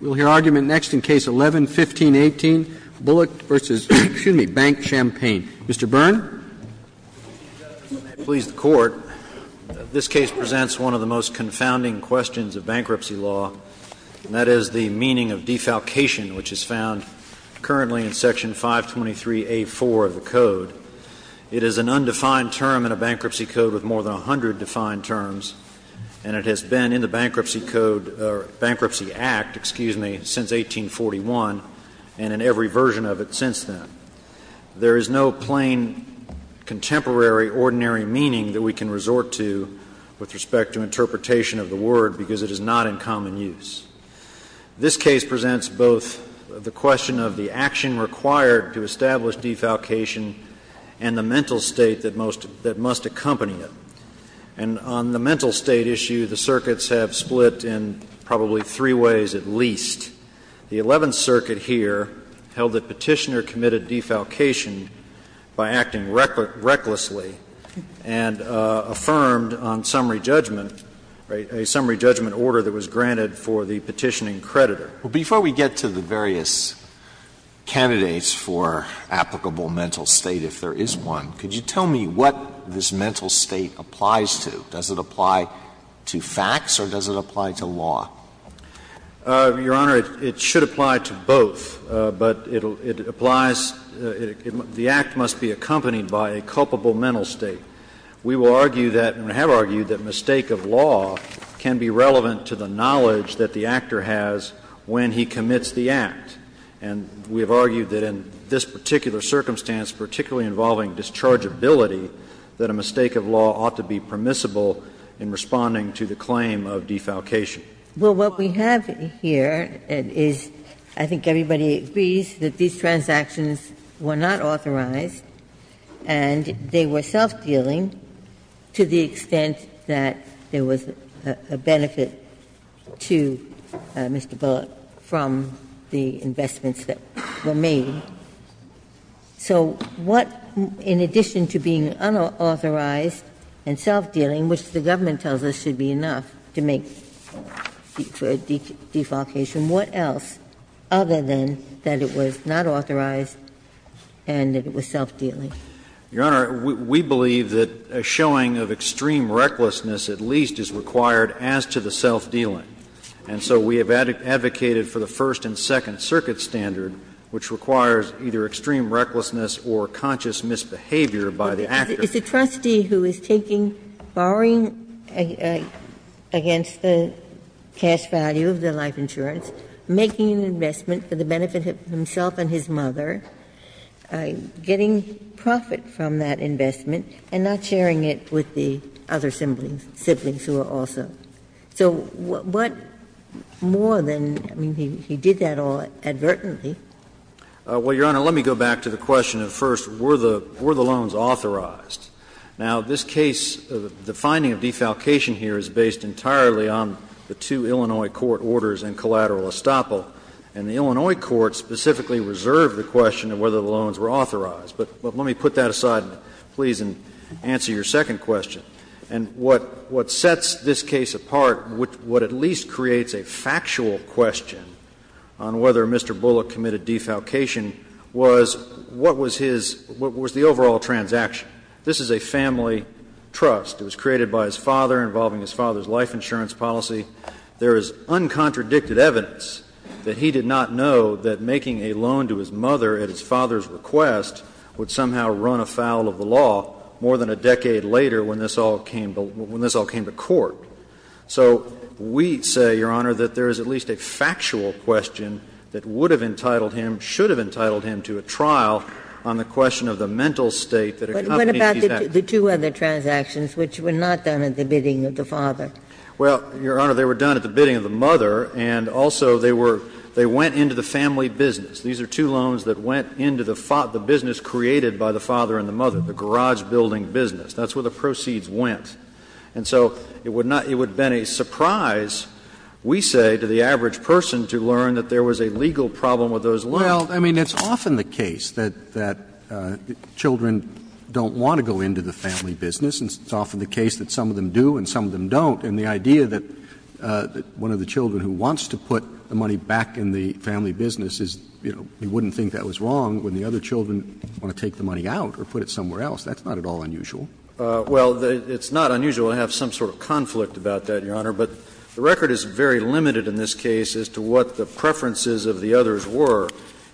We'll hear argument next in Case 11-1518, Bullock v. BankChampaign. Mr. Byrne. May it please the Court, this case presents one of the most confounding questions of bankruptcy law, and that is the meaning of defalcation, which is found currently in Section 523A4 of the Code. It is an undefined term in a bankruptcy code with more than 100 defined terms, and it has been in the Bankruptcy Code or Bankruptcy Act, excuse me, since 1841 and in every version of it since then. There is no plain, contemporary, ordinary meaning that we can resort to with respect to interpretation of the word because it is not in common use. This case presents both the question of the action required to establish defalcation and the mental state that must accompany it. And on the mental state issue, the circuits have split in probably three ways at least. The Eleventh Circuit here held that Petitioner committed defalcation by acting recklessly and affirmed on summary judgment a summary judgment order that was granted for the petitioning creditor. Alito, before we get to the various candidates for applicable mental state, if there is one, could you tell me what this mental state applies to? Does it apply to facts or does it apply to law? Your Honor, it should apply to both, but it applies to the act must be accompanied by a culpable mental state. We will argue that and have argued that mistake of law can be relevant to the knowledge that the actor has when he commits the act. And we have argued that in this particular circumstance, particularly involving dischargeability, that a mistake of law ought to be permissible in responding to the claim of defalcation. Well, what we have here is, I think everybody agrees, that these transactions were not authorized, and they were self-dealing to the extent that there was a benefit to Mr. Bullock from the investments that were made. So what, in addition to being unauthorized and self-dealing, which the government tells us should be enough to make for a defalcation, what else, other than that it was not authorized and that it was self-dealing? Your Honor, we believe that a showing of extreme recklessness at least is required as to the self-dealing. And so we have advocated for the first and second circuit standard, which requires either extreme recklessness or conscious misbehavior by the actor. It's a trustee who is taking, borrowing against the cash value of the life insurance, making an investment for the benefit of himself and his mother, getting profit from that investment, and not sharing it with the other siblings who are also. So what more than, I mean, he did that all advertently. Well, Your Honor, let me go back to the question of first, were the loans authorized? Now, this case, the finding of defalcation here is based entirely on the two Illinois court orders and collateral estoppel. And the Illinois court specifically reserved the question of whether the loans were authorized. But let me put that aside, please, and answer your second question. And what sets this case apart, what at least creates a factual question on whether Mr. Bullock committed defalcation, was what was his – what was the overall transaction. This is a family trust. It was created by his father, involving his father's life insurance policy. There is uncontradicted evidence that he did not know that making a loan to his mother at his father's request would somehow run afoul of the law more than a decade later when this all came to court. So we say, Your Honor, that there is at least a factual question that would have entitled him, should have entitled him to a trial on the question of the mental state that accompanied defalcation. But what about the two other transactions which were not done at the bidding of the father? Well, Your Honor, they were done at the bidding of the mother, and also they were – they went into the family business. These are two loans that went into the business created by the father and the mother, the garage building business. That's where the proceeds went. And so it would not – it would have been a surprise, we say, to the average person to learn that there was a legal problem with those loans. Well, I mean, it's often the case that children don't want to go into the family business, and it's often the case that some of them do and some of them don't. And the idea that one of the children who wants to put the money back in the family business is, you know, we wouldn't think that was wrong when the other children want to take the money out or put it somewhere else, that's not at all unusual. Well, it's not unusual to have some sort of conflict about that, Your Honor, but the record is very limited in this case as to what the preferences of the others were.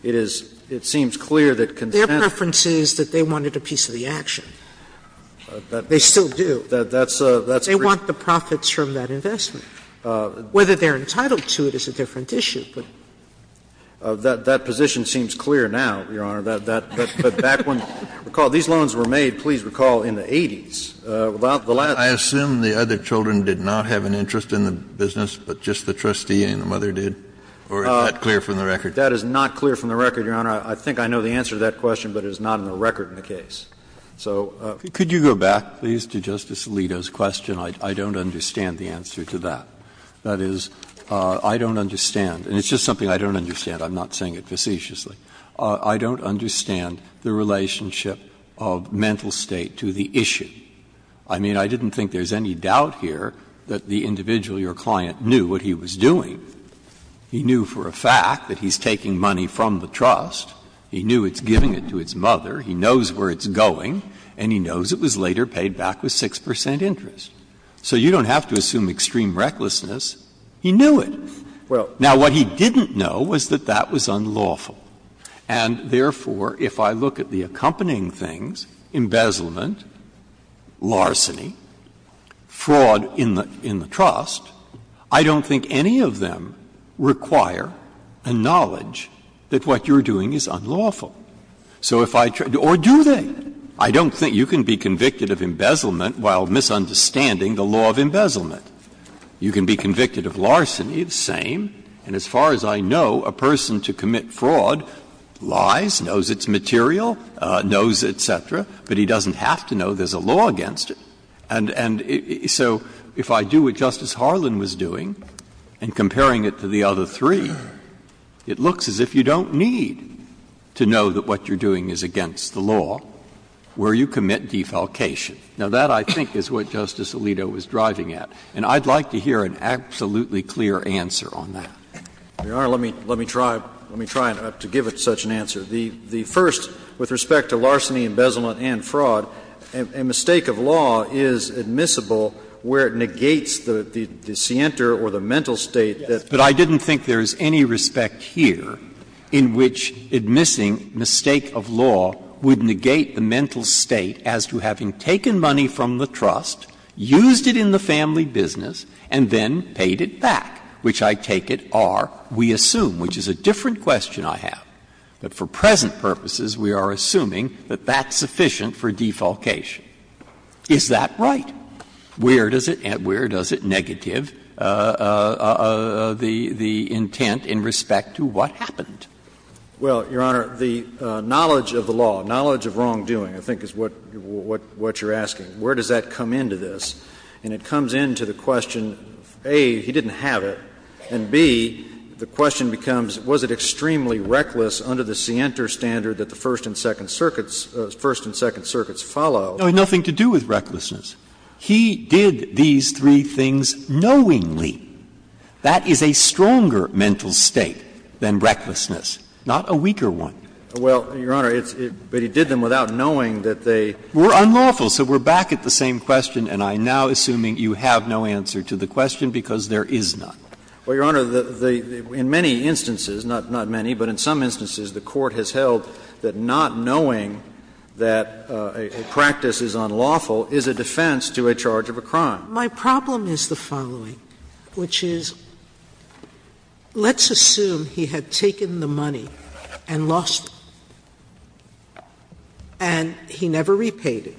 It is – it seems clear that consent was not a part of that. Their preference is that they wanted a piece of the action. They still do. That's a – that's a preference. They want the profits from that investment. Whether they're entitled to it is a different issue. That position seems clear now, Your Honor, that back when – recall, these loans were made, please recall, in the 80s. Without the last one. Kennedy, I assume the other children did not have an interest in the business, but just the trustee and the mother did? Or is that clear from the record? That is not clear from the record, Your Honor. I think I know the answer to that question, but it is not on the record in the case. So the case is not clear from the record. Could you go back, please, to Justice Alito's question? I don't understand the answer to that. That is, I don't understand. And it's just something I don't understand. I'm not saying it facetiously. I don't understand the relationship of mental state to the issue. I mean, I didn't think there's any doubt here that the individual, your client, knew what he was doing. He knew for a fact that he's taking money from the trust. He knew it's giving it to its mother. He knows where it's going. And he knows it was later paid back with 6 percent interest. So you don't have to assume extreme recklessness. He knew it. Now, what he didn't know was that that was unlawful. And therefore, if I look at the accompanying things, embezzlement, larceny, fraud in the trust, I don't think any of them require a knowledge that what you're doing is unlawful. So if I try to do or do that, I don't think you can be convicted of embezzlement while misunderstanding the law of embezzlement. You can be convicted of larceny, the same. And as far as I know, a person to commit fraud lies, knows it's material, knows et cetera, but he doesn't have to know there's a law against it. And so if I do what Justice Harlan was doing and comparing it to the other three, it looks as if you don't need to know that what you're doing is against the law, where you commit defalcation. Now, that, I think, is what Justice Alito was driving at. And I'd like to hear an absolutely clear answer on that. Let me try to give it such an answer. The first, with respect to larceny, embezzlement and fraud, a mistake of law is admissible where it negates the scienter or the mental state that. But I didn't think there is any respect here in which admissing mistake of law would negate the mental state as to having taken money from the trust, used it in the family business, and then paid it back, which I take it are, we assume, which is a different question I have. But for present purposes, we are assuming that that's sufficient for defalcation. Is that right? Where does it negative the intent in respect to what happened? Well, Your Honor, the knowledge of the law, knowledge of wrongdoing, I think, is what you're asking. Where does that come into this? And it comes into the question of, A, he didn't have it, and, B, the question becomes, was it extremely reckless under the scienter standard that the First and Second Circuits followed? It had nothing to do with recklessness. He did these three things knowingly. That is a stronger mental state than recklessness, not a weaker one. Well, Your Honor, but he did them without knowing that they were unlawful. So we're back at the same question, and I'm now assuming you have no answer to the question, because there is none. Well, Your Honor, in many instances, not many, but in some instances, the Court has held that not knowing that a practice is unlawful is a defense to a charge of a crime. My problem is the following, which is, let's assume he had taken the money and lost it, and he never repaid it.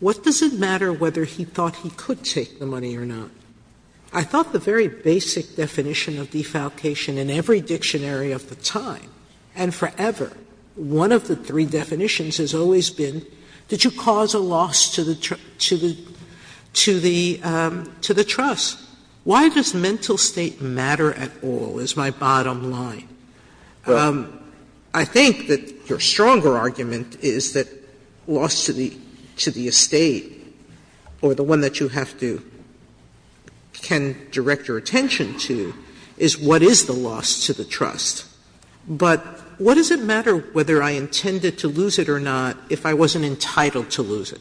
What does it matter whether he thought he could take the money or not? I thought the very basic definition of defalcation in every dictionary of the time and forever, one of the three definitions, has always been, did you cause a loss to the trust? Why does mental state matter at all, is my bottom line. I think that your stronger argument is that loss to the estate, or the one that you have to can direct your attention to, is what is the loss to the trust. But what does it matter whether I intended to lose it or not if I wasn't entitled to lose it?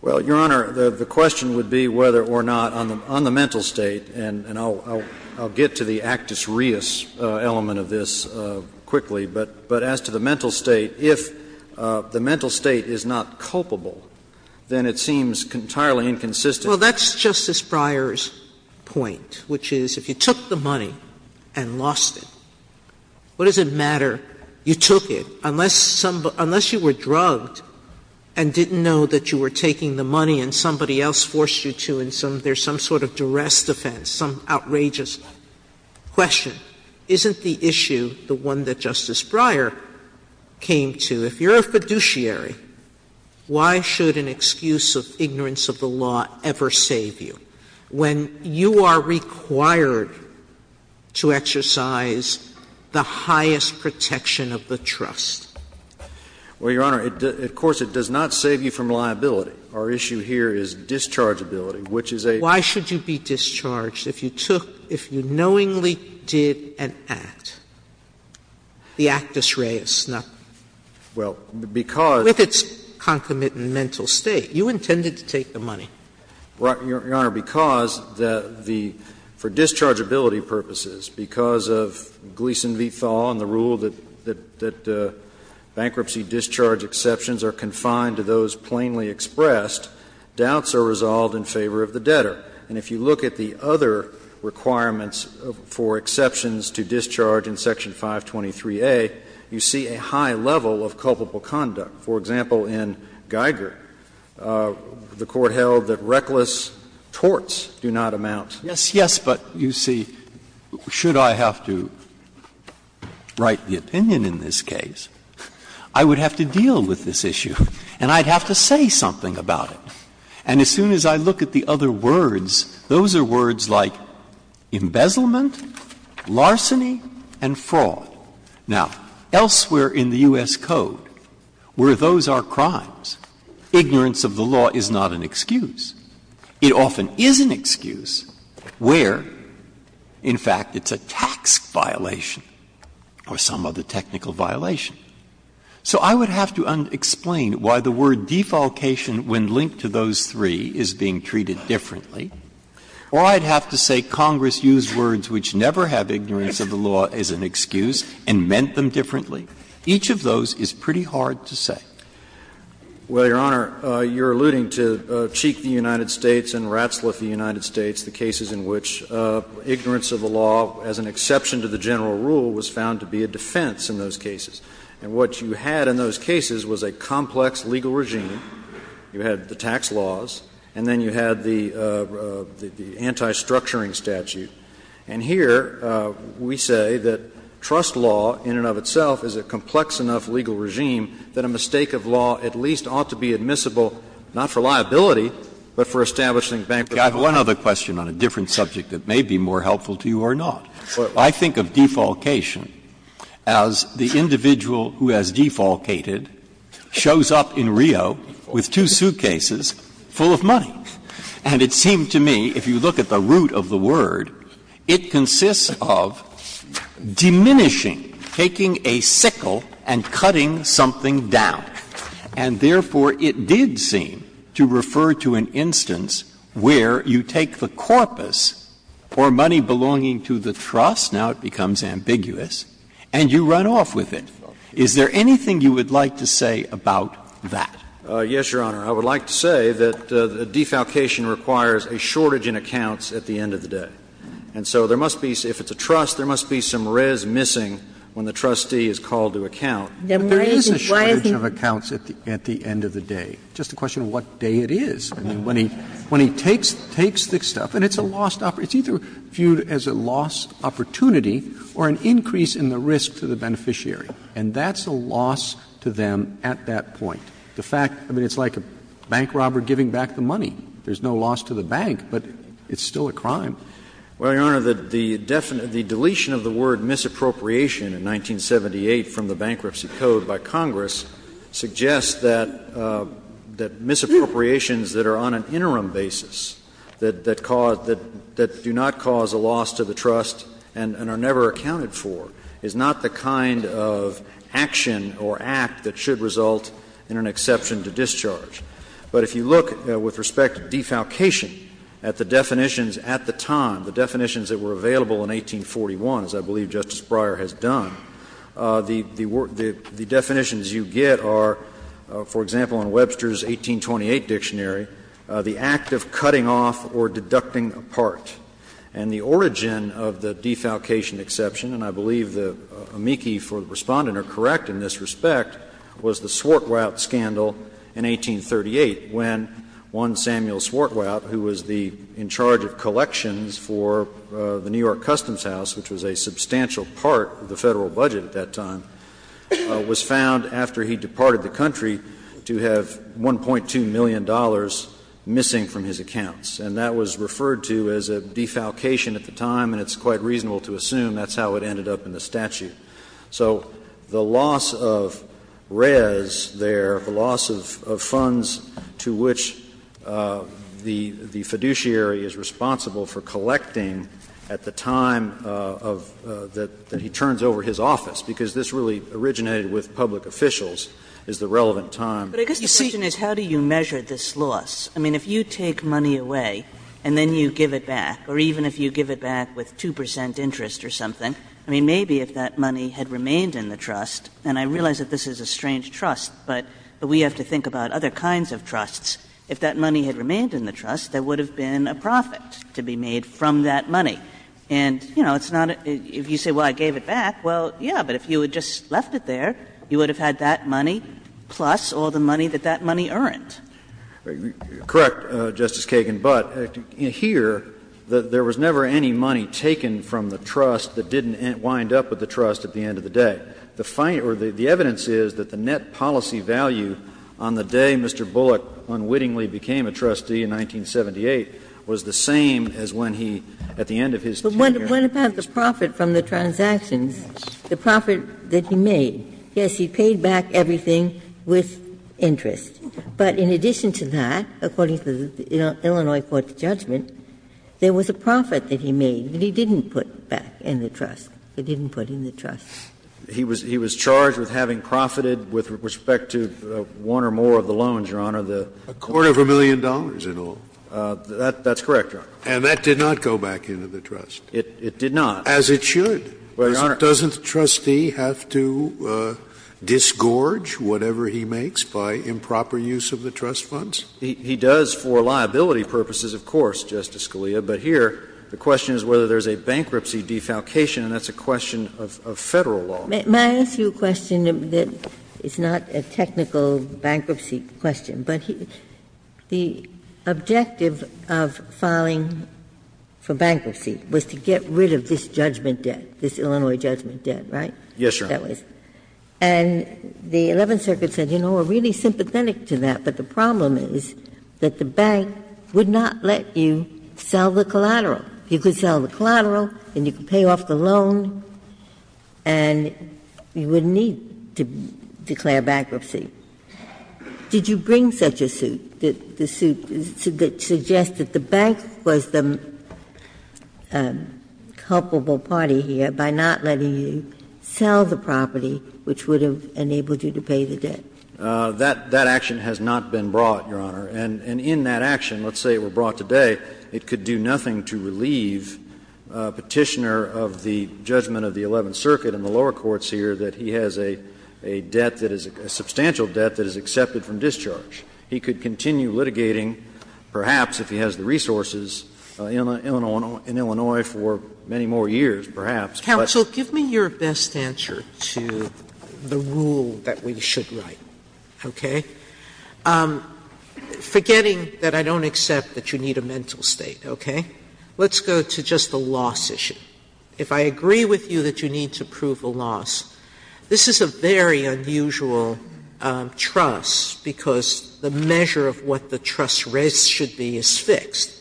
Well, Your Honor, the question would be whether or not on the mental state, and I'll get to the actus reus element of this quickly, but as to the mental state, if the mental state is not culpable, then it seems entirely inconsistent. Well, that's Justice Breyer's point, which is, if you took the money and lost it, what does it matter? You took it. Unless you were drugged and didn't know that you were taking the money and somebody else forced you to, and there's some sort of duress defense, some outrageous question, isn't the issue the one that Justice Breyer came to? If you're a fiduciary, why should an excuse of ignorance of the law ever save you when you are required to exercise the highest protection of the trust? Well, Your Honor, of course, it does not save you from liability. Our issue here is dischargeability, which is a question. Why should you be discharged if you took, if you knowingly did an act, the actus reus, not with its concomitant mental state? You intended to take the money. Well, Your Honor, because for dischargeability purposes, because of Gleeson v. Thaw and the rule that bankruptcy discharge exceptions are confined to those plainly expressed, doubts are resolved in favor of the debtor. And if you look at the other requirements for exceptions to discharge in Section 523a, you see a high level of culpable conduct. For example, in Geiger, the Court held that reckless torts do not amount. Yes, yes, but you see, should I have to write the opinion in this case, I would have to deal with this issue. And I would have to say something about it. And as soon as I look at the other words, those are words like embezzlement, larceny, and fraud. Now, elsewhere in the U.S. Code, where those are crimes, ignorance of the law is not an excuse. It often is an excuse where, in fact, it's a tax violation or some other technical violation. So I would have to explain why the word defalcation, when linked to those three, is being treated differently. Or I'd have to say Congress used words which never have ignorance of the law as an excuse and meant them differently. Each of those is pretty hard to say. Well, Your Honor, you're alluding to Cheek v. United States and Ratzliff v. United States, the cases in which ignorance of the law, as an exception to the general rule, was found to be a defense in those cases. And what you had in those cases was a complex legal regime. You had the tax laws, and then you had the anti-structuring statute. And here we say that trust law in and of itself is a complex enough legal regime that a mistake of law at least ought to be admissible not for liability, but for establishing bankruptcy. Breyer. I have one other question on a different subject that may be more helpful to you or not. I think of defalcation as the individual who has defalcated shows up in Rio with two suitcases full of money. And it seemed to me, if you look at the root of the word, it consists of diminishing, taking a sickle and cutting something down. And therefore, it did seem to refer to an instance where you take the corpus or money belonging to the trust, now it becomes ambiguous, and you run off with it. Is there anything you would like to say about that? Yes, Your Honor. I would like to say that defalcation requires a shortage in accounts at the end of the day. And so there must be, if it's a trust, there must be some res missing when the trustee is called to account. But there is a shortage of accounts at the end of the day. Just a question of what day it is. When he takes this stuff, and it's a lost opportunity, it's either viewed as a lost opportunity or an increase in the risk to the beneficiary, and that's a loss to them at that point. The fact, I mean, it's like a bank robber giving back the money. There's no loss to the bank, but it's still a crime. Well, Your Honor, the definition of the word misappropriation in 1978 from the Bankruptcy Act, the definition of misappropriation is that misappropriation is a loss to the trust that are on an interim basis, that do not cause a loss to the trust and are never accounted for, is not the kind of action or act that should result in an exception to discharge. But if you look with respect to defalcation at the definitions at the time, the definitions that were available in 1841, as I believe Justice Breyer has done, the definitions you get are, for example, in Webster's 1828 dictionary, the act of cutting off or deducting apart. And the origin of the defalcation exception, and I believe the amici for the Respondent are correct in this respect, was the Swartwout scandal in 1838, when one Samuel Swartwout, who was the Director of Collections for the New York Customs House, which was a substantial part of the Federal budget at that time, was found, after he departed the country, to have $1.2 million missing from his accounts. And that was referred to as a defalcation at the time, and it's quite reasonable to assume that's how it ended up in the statute. So the loss of res there, the loss of funds to which the fiduciary is responsible for collecting at the time that he turns over his office, because this really originated with public officials, is the relevant time. Kagan. Kagan. Kagan. Kagan. Kagan. But I guess the question is, how do you measure this loss? I mean, if you take money away and then you give it back, or even if you give it back with 2 percent interest or something, I mean, maybe if that money had remained in the trust, and I realize that this is a strange trust, but we have to think about other kinds of trusts. If that money had remained in the trust, there would have been a profit to be made from that money. And, you know, it's not a – if you say, well, I gave it back, well, yes, but if you had just left it there, you would have had that money plus all the money that that money earned. And so you're saying that there was never any money taken from the trust that didn't wind up with the trust at the end of the day. Correct, Justice Kagan, but here there was never any money taken from the trust that didn't wind up with the trust at the end of the day. The evidence is that the net policy value on the day Mr. Bullock unwittingly became a trustee in 1978 was the same as when he, at the end of his tenure, became a trustee. trust at the end of the day. What about the profit from the transactions, the profit that he made? Yes, he paid back everything with interest, but in addition to that, according to the Illinois court's judgment, there was a profit that he made that he didn't put back in the trust, that he didn't put in the trust. He was charged with having profited with respect to one or more of the loans, Your Honor. A quarter of a million dollars in all. That's correct, Your Honor. And that did not go back into the trust. It did not. As it should. Doesn't the trustee have to disgorge whatever he makes by improper use of the trust funds? He does for liability purposes, of course, Justice Scalia. But here, the question is whether there's a bankruptcy defalcation, and that's a question of Federal law. May I ask you a question that is not a technical bankruptcy question? But the objective of filing for bankruptcy was to get rid of this judgment debt, this Illinois judgment debt, right? Yes, Your Honor. And the Eleventh Circuit said, you know, we're really sympathetic to that, but the problem is that the bank would not let you sell the collateral. You could sell the collateral and you could pay off the loan, and you wouldn't need to declare bankruptcy. Did you bring such a suit, the suit that suggested the bank was the culpable party here by not letting you sell the property, which would have enabled you to pay the debt? That action has not been brought, Your Honor. And in that action, let's say it were brought today, it could do nothing to relieve Petitioner of the judgment of the Eleventh Circuit and the lower courts here that he has a debt that is a substantial debt that is accepted from discharge. He could continue litigating, perhaps, if he has the resources, in Illinois for many more years, perhaps. Sotomayor, give me your best answer to the rule that we should write, okay? Forgetting that I don't accept that you need a mental state, okay, let's go to just the loss issue. If I agree with you that you need to prove a loss, this is a very unusual trust because the measure of what the trust rate should be is fixed.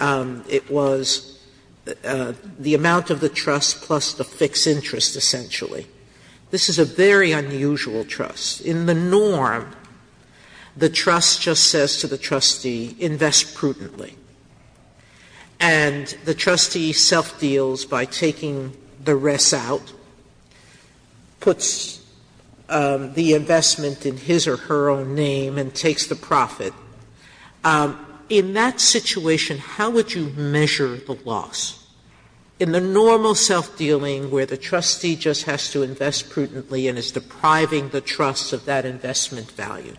It was the amount of the trust plus the fixed interest, essentially. This is a very unusual trust. In the norm, the trust just says to the trustee, invest prudently. And the trustee self-deals by taking the rest out, puts the investment in his or her own name, and takes the profit. In that situation, how would you measure the loss? In the normal self-dealing where the trustee just has to invest prudently and is depriving the trust of that investment value,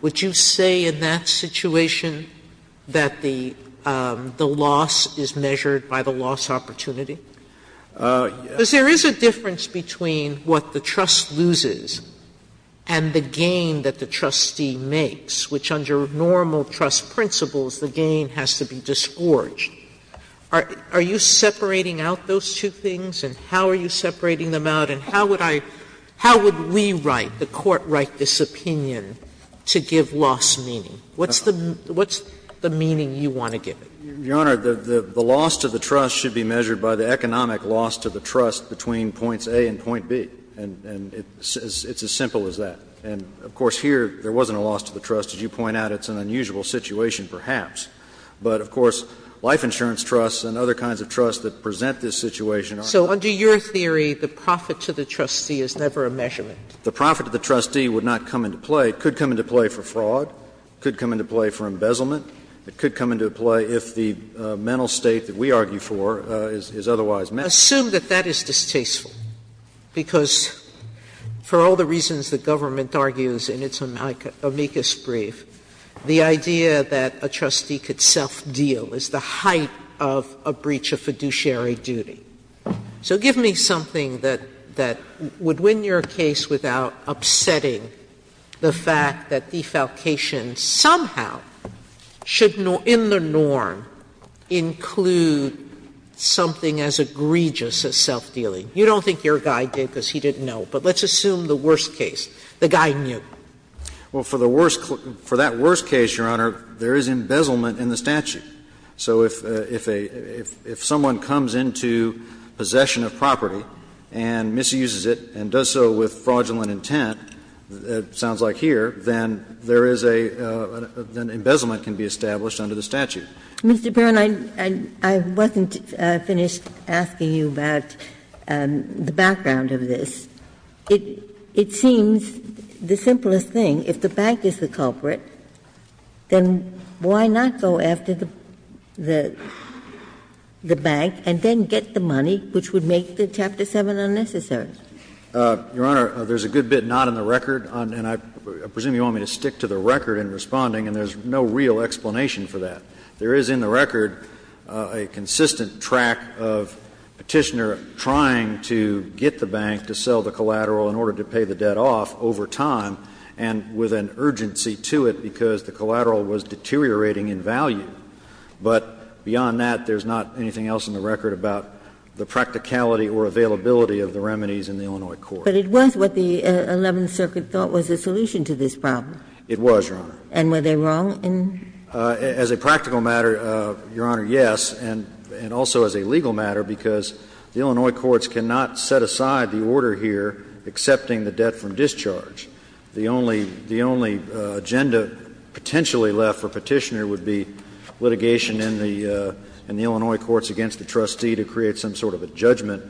would you say in that situation that the loss is measured by the loss opportunity? Because there is a difference between what the trust loses and the gain that the gain has to be disgorged. Are you separating out those two things, and how are you separating them out, and how would I – how would we write, the Court write this opinion to give loss meaning? What's the meaning you want to give it? Your Honor, the loss to the trust should be measured by the economic loss to the trust between points A and point B, and it's as simple as that. And, of course, here there wasn't a loss to the trust. As you point out, it's an unusual situation perhaps. But, of course, life insurance trusts and other kinds of trusts that present this situation are not. Sotomayor So under your theory, the profit to the trustee is never a measurement. The profit to the trustee would not come into play. It could come into play for fraud. It could come into play for embezzlement. It could come into play if the mental state that we argue for is otherwise met. Assume that that is distasteful, because for all the reasons the government argues in its amicus brief, the idea that a trustee could self-deal is the height of a breach of fiduciary duty. So give me something that would win your case without upsetting the fact that defalcation somehow should in the norm include something as egregious as self-dealing. You don't think your guy did because he didn't know, but let's assume the worst case. The guy knew. Well, for the worst case, for that worst case, Your Honor, there is embezzlement in the statute. So if a, if someone comes into possession of property and misuses it and does so with fraudulent intent, it sounds like here, then there is a, an embezzlement can be established under the statute. Mr. Barron, I wasn't finished asking you about the background of this. It seems the simplest thing. If the bank is the culprit, then why not go after the bank and then get the money, which would make the Chapter 7 unnecessary? Your Honor, there is a good bit not in the record, and I presume you want me to stick to the record in responding, and there is no real explanation for that. There is in the record a consistent track of Petitioner trying to get the bank to sell the collateral in order to pay the debt off over time, and with an urgency to it because the collateral was deteriorating in value. But beyond that, there is not anything else in the record about the practicality or availability of the remedies in the Illinois court. But it was what the Eleventh Circuit thought was the solution to this problem. It was, Your Honor. And were they wrong in? As a practical matter, Your Honor, yes, and also as a legal matter, because the Illinois courts cannot set aside the order here accepting the debt from discharge. The only agenda potentially left for Petitioner would be litigation in the Illinois courts against the trustee to create some sort of a judgment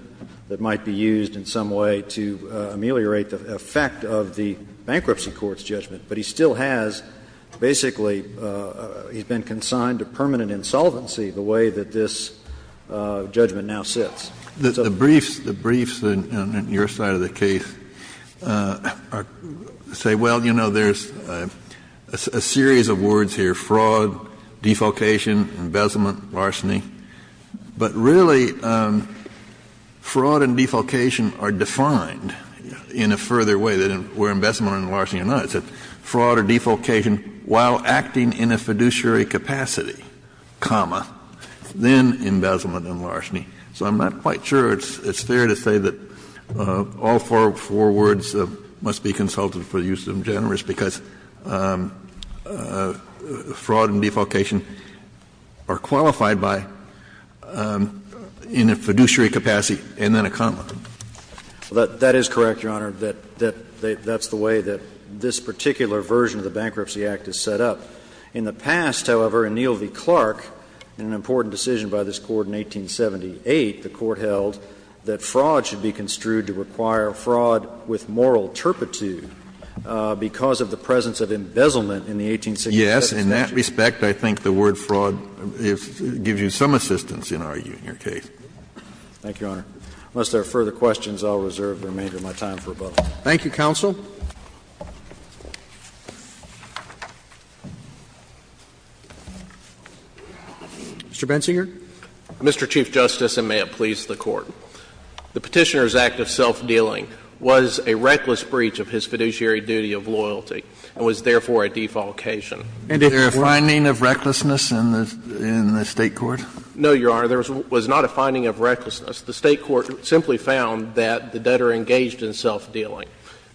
that might be used in some way to ameliorate the effect of the bankruptcy court's judgment. But he still has basically been consigned to permanent insolvency the way that this judgment now sits. The briefs, the briefs on your side of the case say, well, you know, there's a series of words here, fraud, defolcation, embezzlement, larceny. But really, fraud and defolcation are defined in a further way than where embezzlement and larceny are not. It's a fraud or defolcation while acting in a fiduciary capacity, comma, then embezzlement and larceny. So I'm not quite sure it's fair to say that all four words must be consulted for the use of generis because fraud and defolcation are qualified by in a fiduciary capacity and then a comma. That is correct, Your Honor, that that's the way that this particular version of the Bankruptcy Act is set up. In the past, however, in Neal v. Clark, in an important decision by this Court in 1870 and 1878, the Court held that fraud should be construed to require fraud with moral turpitude because of the presence of embezzlement in the 1860s. Yes. In that respect, I think the word fraud gives you some assistance in arguing your case. Thank you, Your Honor. Unless there are further questions, I'll reserve the remainder of my time for a vote. Thank you, counsel. Mr. Bensinger. Mr. Chief Justice, and may it please the Court. The Petitioner's act of self-dealing was a reckless breach of his fiduciary duty of loyalty and was therefore a defolcation. And if there is a finding of recklessness in the State court? No, Your Honor. There was not a finding of recklessness. The State court simply found that the debtor engaged in self-dealing,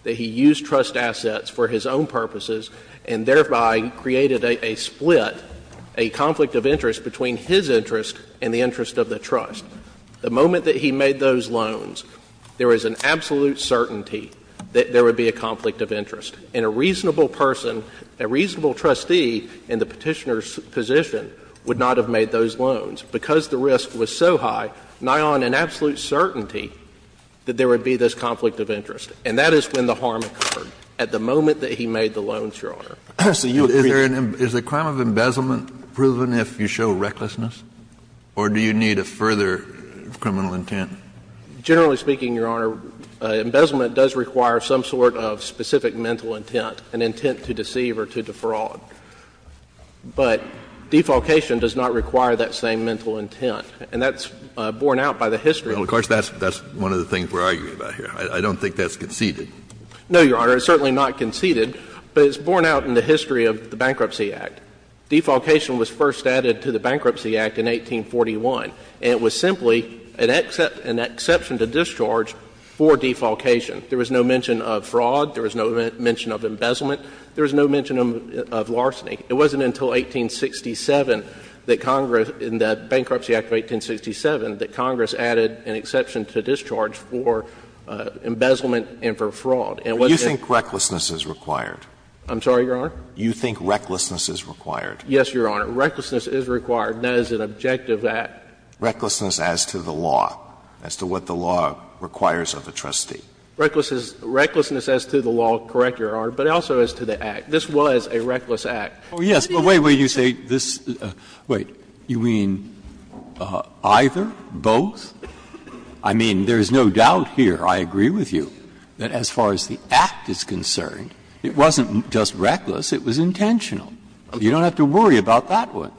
that he used trust assets for his own purposes and thereby created a split, a conflict of interest between his interest and the interest of the trust. The moment that he made those loans, there is an absolute certainty that there would be a conflict of interest. And a reasonable person, a reasonable trustee in the Petitioner's position would not have made those loans because the risk was so high, nigh on an absolute certainty that there would be this conflict of interest. And that is when the harm occurred, at the moment that he made the loans, Your Honor. So you agree? Is there an embezzlement proven if you show recklessness or do you need a further criminal intent? Generally speaking, Your Honor, embezzlement does require some sort of specific mental intent, an intent to deceive or to defraud. But defolcation does not require that same mental intent. And that's borne out by the history. Well, of course, that's one of the things we're arguing about here. I don't think that's conceded. No, Your Honor. It's certainly not conceded, but it's borne out in the history of the Bankruptcy Act. Defolcation was first added to the Bankruptcy Act in 1841. And it was simply an exception to discharge for defolcation. There was no mention of fraud. There was no mention of embezzlement. There was no mention of larceny. It wasn't until 1867 that Congress, in the Bankruptcy Act of 1867, that Congress added an exception to discharge for embezzlement and for fraud. And what's this? Alito, you think recklessness is required. I'm sorry, Your Honor? You think recklessness is required. Yes, Your Honor. Recklessness is required. That is an objective act. Recklessness as to the law, as to what the law requires of a trustee. Recklessness as to the law, correct, Your Honor, but also as to the act. This was a reckless act. Oh, yes. But wait, wait. You say this — wait. I mean, there is no doubt here, I agree with you, that as far as the act is concerned, it wasn't just reckless, it was intentional. You don't have to worry about that one.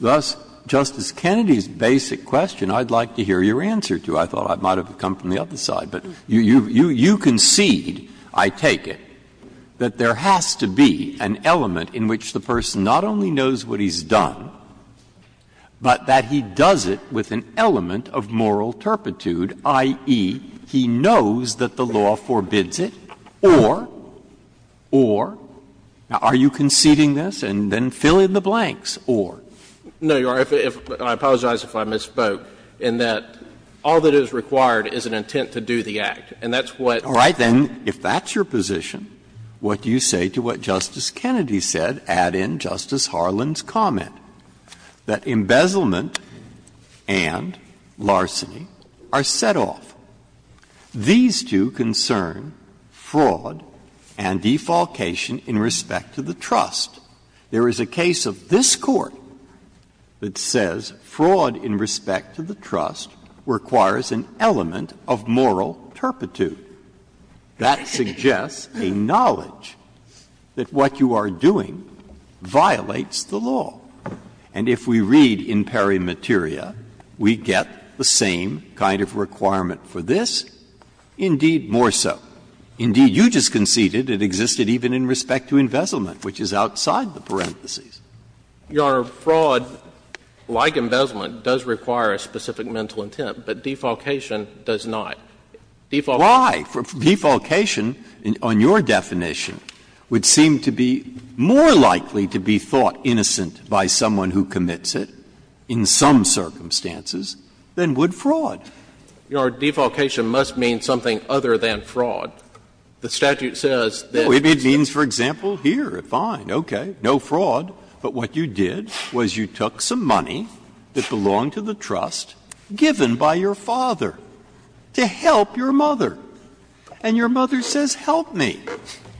Thus, Justice Kennedy's basic question, I'd like to hear your answer to. I thought I might have come from the other side, but you concede, I take it, that there has to be an element in which the person not only knows what he's done, but that he does it with an element of moral turpitude, i.e., he knows that the law forbids it, or, or — now, are you conceding this? And then fill in the blanks, or. No, Your Honor, I apologize if I misspoke, in that all that is required is an intent to do the act. And that's what — All right. Then if that's your position, what do you say to what Justice Kennedy said, add in Justice Harlan's comment, that embezzlement and larceny are set off? These two concern fraud and defalcation in respect to the trust. There is a case of this Court that says fraud in respect to the trust requires an element of moral turpitude. That suggests a knowledge that what you are doing violates the law. And if we read in peri materia, we get the same kind of requirement for this, indeed more so. Indeed, you just conceded it existed even in respect to embezzlement, which is outside the parentheses. Your Honor, fraud, like embezzlement, does require a specific mental intent, but defalcation does not. Defalcation— Why? By someone who commits it, in some circumstances, than would fraud. Your Honor, defalcation must mean something other than fraud. The statute says that— No, it means, for example, here, fine, okay, no fraud, but what you did was you took some money that belonged to the trust given by your father to help your mother. And your mother says, help me.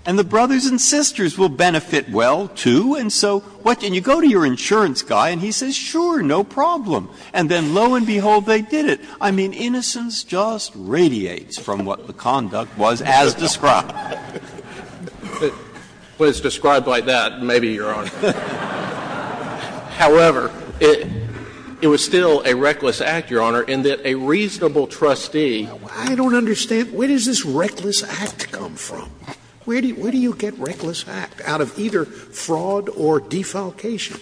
And the brothers and sisters will benefit well, too, and so what — and you go to your insurance guy and he says, sure, no problem. And then, lo and behold, they did it. I mean, innocence just radiates from what the conduct was as described. But it's described like that, maybe, Your Honor. However, it was still a reckless act, Your Honor, in that a reasonable trustee— I don't understand. Where does this reckless act come from? Where do you get reckless act out of either fraud or defalcation?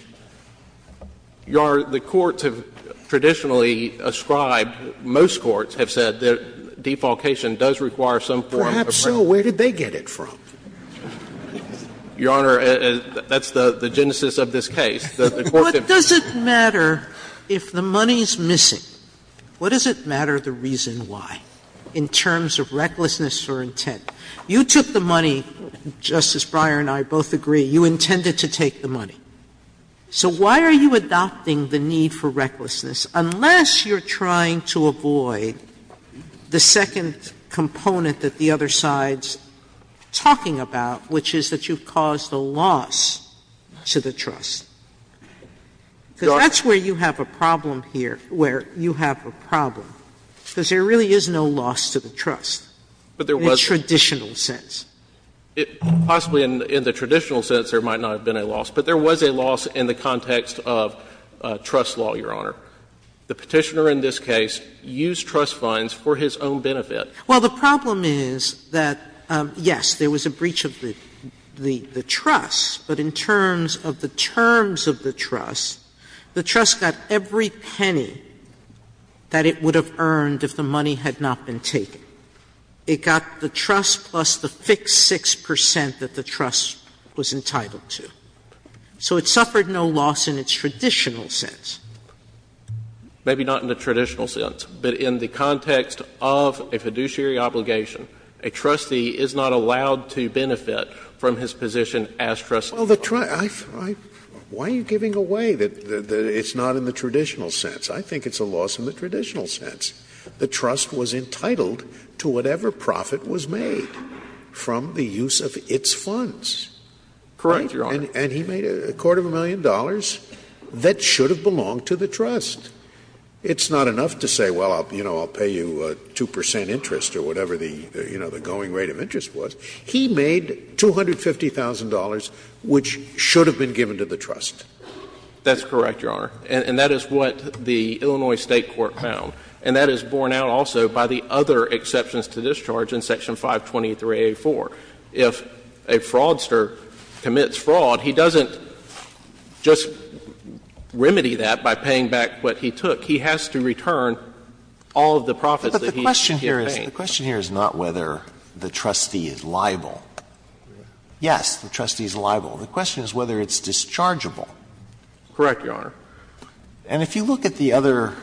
Your Honor, the courts have traditionally ascribed, most courts have said that defalcation does require some form of— Perhaps so. Where did they get it from? Your Honor, that's the genesis of this case. The court— What does it matter if the money is missing? What does it matter the reason why, in terms of recklessness or intent? You took the money, Justice Breyer and I both agree, you intended to take the money. So why are you adopting the need for recklessness, unless you're trying to avoid the second component that the other side's talking about, which is that you've caused a loss to the trust? Because that's where you have a problem here, where you have a problem, because there really is no loss to the trust in the traditional sense. Possibly in the traditional sense, there might not have been a loss, but there was a loss in the context of trust law, Your Honor. The Petitioner in this case used trust funds for his own benefit. Well, the problem is that, yes, there was a breach of the trust, but in terms of the terms of the trust, the trust got every penny that it would have earned if the money had not been taken. It got the trust plus the fixed 6 percent that the trust was entitled to. So it suffered no loss in its traditional sense. Maybe not in the traditional sense, but in the context of a fiduciary obligation, a trustee is not allowed to benefit from his position as trustee. Well, the trust – why are you giving away that it's not in the traditional sense? I think it's a loss in the traditional sense. The trust was entitled to whatever profit was made from the use of its funds. Correct, Your Honor. And he made a quarter of a million dollars that should have belonged to the trust. It's not enough to say, well, you know, I'll pay you 2 percent interest or whatever the, you know, the going rate of interest was. He made $250,000, which should have been given to the trust. That's correct, Your Honor. And that is what the Illinois State Court found. And that is borne out also by the other exceptions to discharge in Section 523A4. If a fraudster commits fraud, he doesn't just remedy that by paying back what he took. He has to return all of the profits that he paid. But the question here is not whether the trustee is liable. Yes, the trustee is liable. Correct, Your Honor. And if you look at the other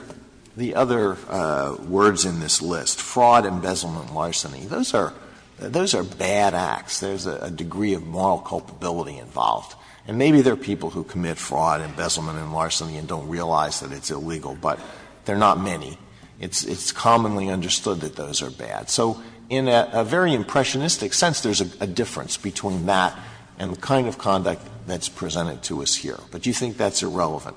words in this list, fraud, embezzlement, and larceny, those are bad acts. There's a degree of moral culpability involved. And maybe there are people who commit fraud, embezzlement, and larceny and don't realize that it's illegal, but there are not many. It's commonly understood that those are bad. So in a very impressionistic sense, there's a difference between that and the kind of conduct that's presented to us here. But do you think that's irrelevant?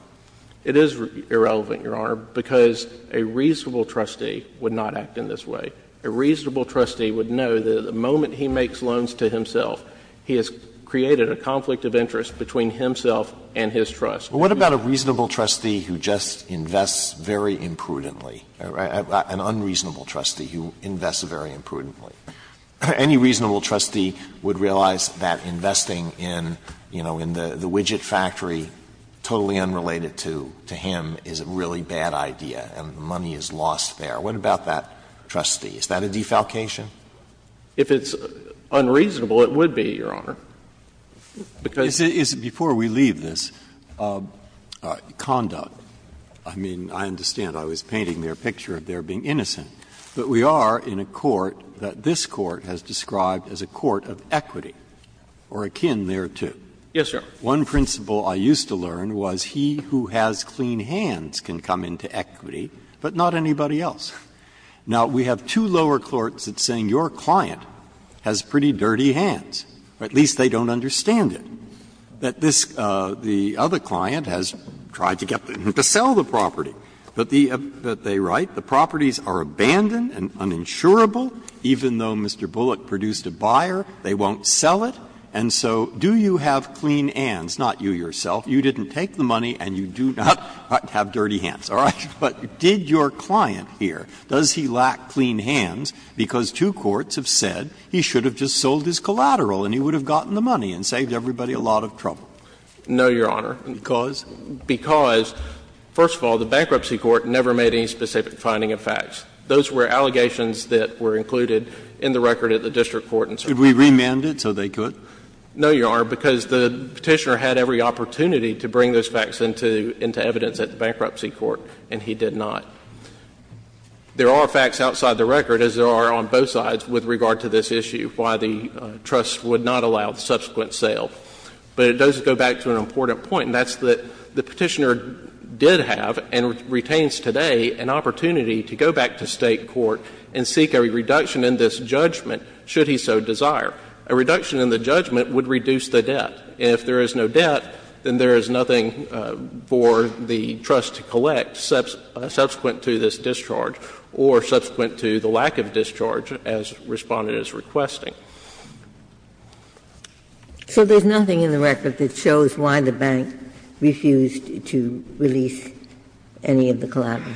It is irrelevant, Your Honor, because a reasonable trustee would not act in this way. A reasonable trustee would know that the moment he makes loans to himself, he has created a conflict of interest between himself and his trust. But what about a reasonable trustee who just invests very imprudently, an unreasonable trustee who invests very imprudently? Any reasonable trustee would realize that investing in, you know, in the widget factory, totally unrelated to him, is a really bad idea and the money is lost there. What about that trustee? Is that a defalcation? If it's unreasonable, it would be, Your Honor, because Is it before we leave this, conduct? I mean, I understand. I was painting there a picture of there being innocent. But we are in a court that this Court has described as a court of equity or akin thereto. Yes, Your Honor. One principle I used to learn was he who has clean hands can come into equity, but not anybody else. Now, we have two lower courts that are saying your client has pretty dirty hands, or at least they don't understand it. That this other client has tried to get them to sell the property. But they write, the properties are abandoned and uninsurable. Even though Mr. Bullock produced a buyer, they won't sell it. And so do you have clean hands, not you yourself, you didn't take the money and you do not have dirty hands, all right? But did your client here, does he lack clean hands because two courts have said he should have just sold his collateral and he would have gotten the money and saved everybody a lot of trouble? No, Your Honor. Because? Because, first of all, the Bankruptcy Court never made any specific finding of facts. Those were allegations that were included in the record at the district court in certain cases. Could we remand it so they could? No, Your Honor, because the Petitioner had every opportunity to bring those facts into evidence at the Bankruptcy Court, and he did not. There are facts outside the record, as there are on both sides, with regard to this issue, why the trust would not allow the subsequent sale. But it does go back to an important point, and that's that the Petitioner did have and retains today an opportunity to go back to State court and seek a reduction in this judgment, should he so desire. A reduction in the judgment would reduce the debt. If there is no debt, then there is nothing for the trust to collect subsequent to this discharge or subsequent to the lack of discharge, as Respondent is requesting. So there's nothing in the record that shows why the Bank refused to release any of the collateral?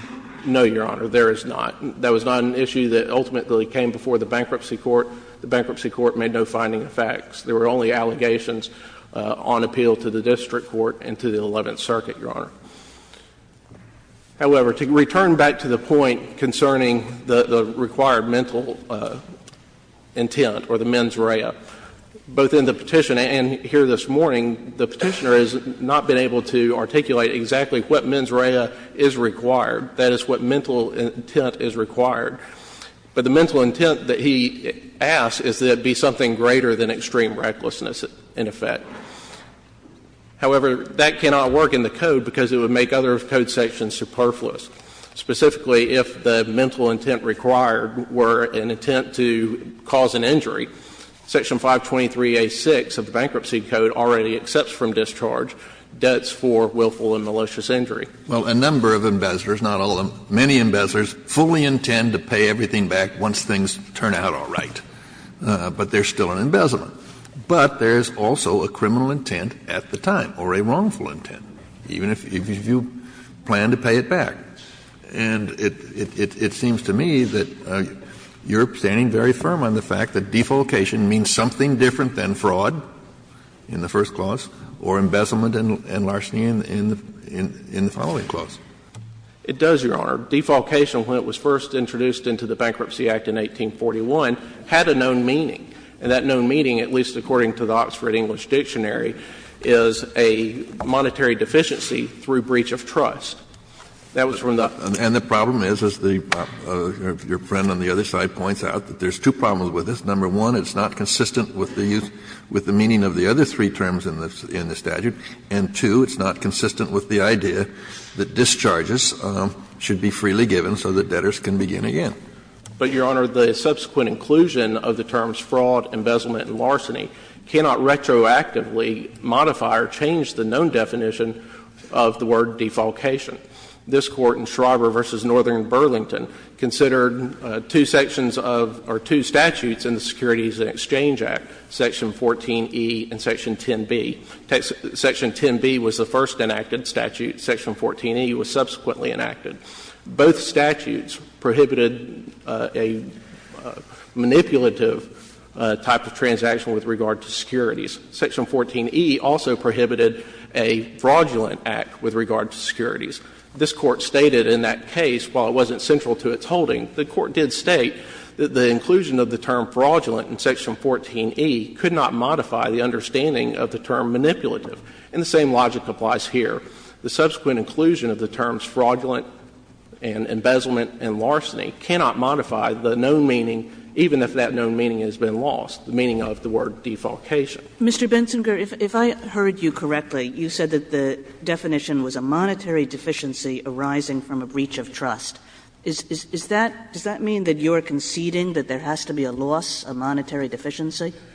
No, Your Honor, there is not. That was not an issue that ultimately came before the Bankruptcy Court. The Bankruptcy Court made no finding of facts. There were only allegations on appeal to the District Court and to the Eleventh Circuit, Your Honor. However, to return back to the point concerning the required mental intent or the mens rea, both in the Petition and here this morning, the Petitioner has not been able to articulate exactly what mens rea is required. That is what mental intent is required. But the mental intent that he asked is that it be something greater than extreme recklessness, in effect. However, that cannot work in the Code because it would make other Code sections superfluous. Specifically, if the mental intent required were an intent to cause an injury, Section 523A6 of the Bankruptcy Code already accepts from discharge debts for willful and malicious injury. Well, a number of embezzlers, not all of them, many embezzlers, fully intend to pay everything back once things turn out all right, but there's still an embezzlement. But there is also a criminal intent at the time or a wrongful intent, even if you plan to pay it back. And it seems to me that you're standing very firm on the fact that defolcation means something different than fraud in the first clause or embezzlement and larceny in the following clause. It does, Your Honor. Defolcation, when it was first introduced into the Bankruptcy Act in 1841, had a known meaning. And that known meaning, at least according to the Oxford English Dictionary, is a monetary deficiency through breach of trust. That was from the other side. And the problem is, as your friend on the other side points out, that there's two problems with this. Number one, it's not consistent with the meaning of the other three terms in the statute. And two, it's not consistent with the idea that discharges should be freely given so that debtors can begin again. But, Your Honor, the subsequent inclusion of the terms fraud, embezzlement and larceny cannot retroactively modify or change the known definition of the word defolcation. This Court in Schrauber v. Northern Burlington considered two sections of or two statutes in the Securities and Exchange Act, section 14E and section 10B, section 14A, and section 10B was the first enacted statute, section 14E was subsequently enacted. Both statutes prohibited a manipulative type of transaction with regard to securities. Section 14E also prohibited a fraudulent act with regard to securities. This Court stated in that case, while it wasn't central to its holding, the Court did state that the inclusion of the term fraudulent in section 14E could not modify the understanding of the term manipulative. And the same logic applies here. The subsequent inclusion of the terms fraudulent and embezzlement and larceny cannot modify the known meaning, even if that known meaning has been lost, the meaning of the word defolcation. Kagan. Kagan. Mr. Bensinger, if I heard you correctly, you said that the definition was a monetary deficiency arising from a breach of trust. Is that – does that mean that you are conceding that there has to be a loss, a monetary deficiency? Bensinger.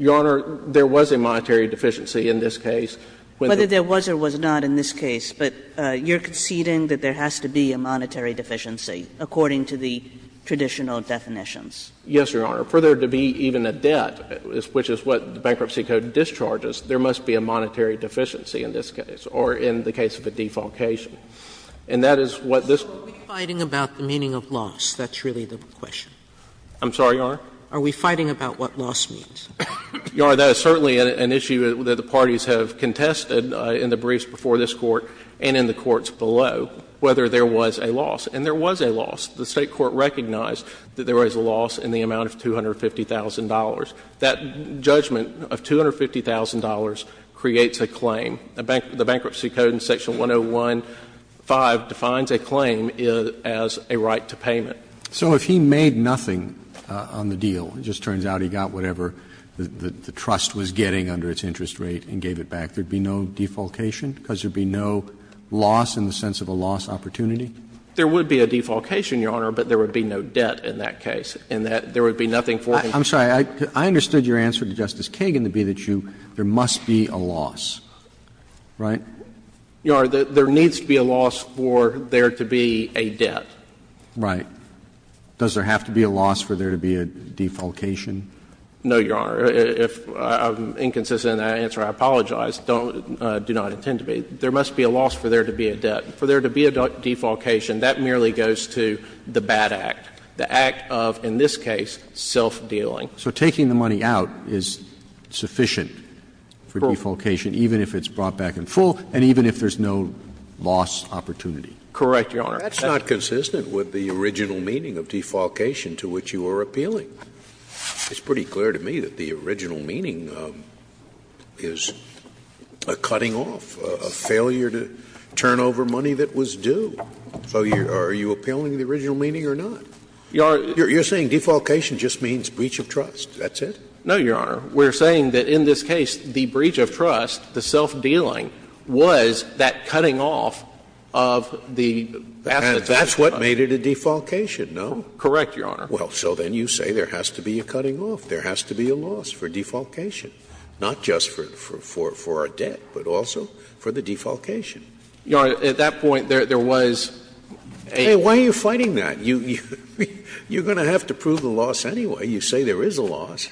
Your Honor, there was a monetary deficiency in this case. Whether there was or was not in this case, but you're conceding that there has to be a monetary deficiency according to the traditional definitions. Yes, Your Honor. For there to be even a debt, which is what the Bankruptcy Code discharges, there must be a monetary deficiency in this case, or in the case of a defolcation. And that is what this one. Are we fighting about the meaning of loss? That's really the question. I'm sorry, Your Honor? Are we fighting about what loss means? Your Honor, that is certainly an issue that the parties have contested in the briefs before this Court and in the courts below, whether there was a loss. And there was a loss. The State court recognized that there was a loss in the amount of $250,000. That judgment of $250,000 creates a claim. The Bankruptcy Code in section 101.5 defines a claim as a right to payment. So if he made nothing on the deal, it just turns out he got whatever the trust was getting under its interest rate and gave it back, there would be no defolcation because there would be no loss in the sense of a loss opportunity? There would be a defolcation, Your Honor, but there would be no debt in that case and that there would be nothing for him. I'm sorry. I understood your answer to Justice Kagan to be that you — there must be a loss. Right? Your Honor, there needs to be a loss for there to be a debt. Right. Does there have to be a loss for there to be a defolcation? No, Your Honor. If I'm inconsistent in that answer, I apologize. Don't — do not intend to be. There must be a loss for there to be a debt. For there to be a defolcation, that merely goes to the bad act, the act of, in this case, self-dealing. So taking the money out is sufficient for defolcation, even if it's brought back in full and even if there's no loss opportunity? Correct, Your Honor. That's not consistent with the original meaning of defolcation to which you are appealing. It's pretty clear to me that the original meaning is a cutting off, a failure to turn over money that was due. So are you appealing the original meaning or not? Your Honor — You're saying defolcation just means breach of trust. That's it? No, Your Honor. We're saying that in this case, the breach of trust, the self-dealing, was that cutting off of the asset that was brought in. And that's what made it a defolcation, no? Correct, Your Honor. Well, so then you say there has to be a cutting off. There has to be a loss for defolcation, not just for our debt, but also for the defolcation. Your Honor, at that point, there was a— Hey, why are you fighting that? You're going to have to prove the loss anyway. You say there is a loss.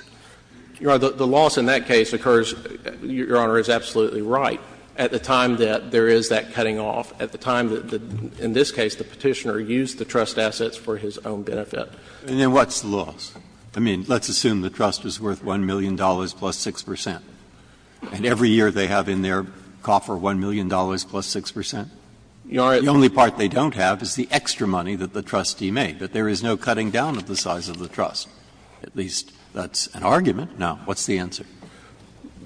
Your Honor, the loss in that case occurs — Your Honor is absolutely right. At the time that there is that cutting off, at the time that, in this case, the Petitioner used the trust assets for his own benefit. And then what's the loss? I mean, let's assume the trust is worth $1 million plus 6 percent, and every year they have in their coffer $1 million plus 6 percent. Your Honor— The only part they don't have is the extra money that the trustee made. But there is no cutting down of the size of the trust. At least that's an argument. Now, what's the answer?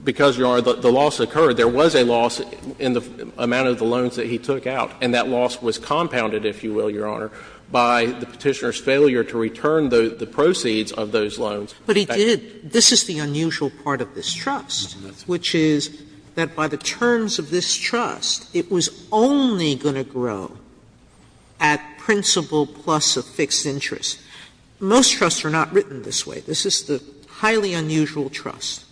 Because, Your Honor, the loss occurred. There was a loss in the amount of the loans that he took out, and that loss was compounded, if you will, Your Honor, by the Petitioner's failure to return the proceeds of those loans. Sotomayor, this is the unusual part of this trust, which is that by the terms of this trust, it was only going to grow at principal plus a fixed interest. Most trusts are not written this way. This is the highly unusual trust,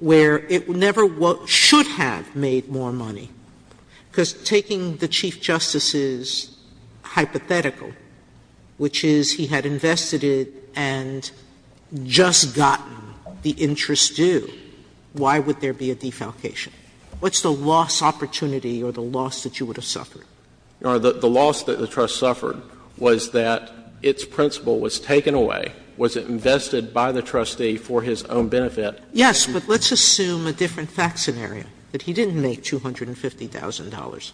where it never should have made more money. Because taking the Chief Justice's hypothetical, which is he had invested it and just gotten the interest due, why would there be a defalcation? What's the loss opportunity or the loss that you would have suffered? Your Honor, the loss that the trust suffered was that its principal was taken away. Was it invested by the trustee for his own benefit? Sotomayor, yes, but let's assume a different fact scenario, that he didn't make $250,000,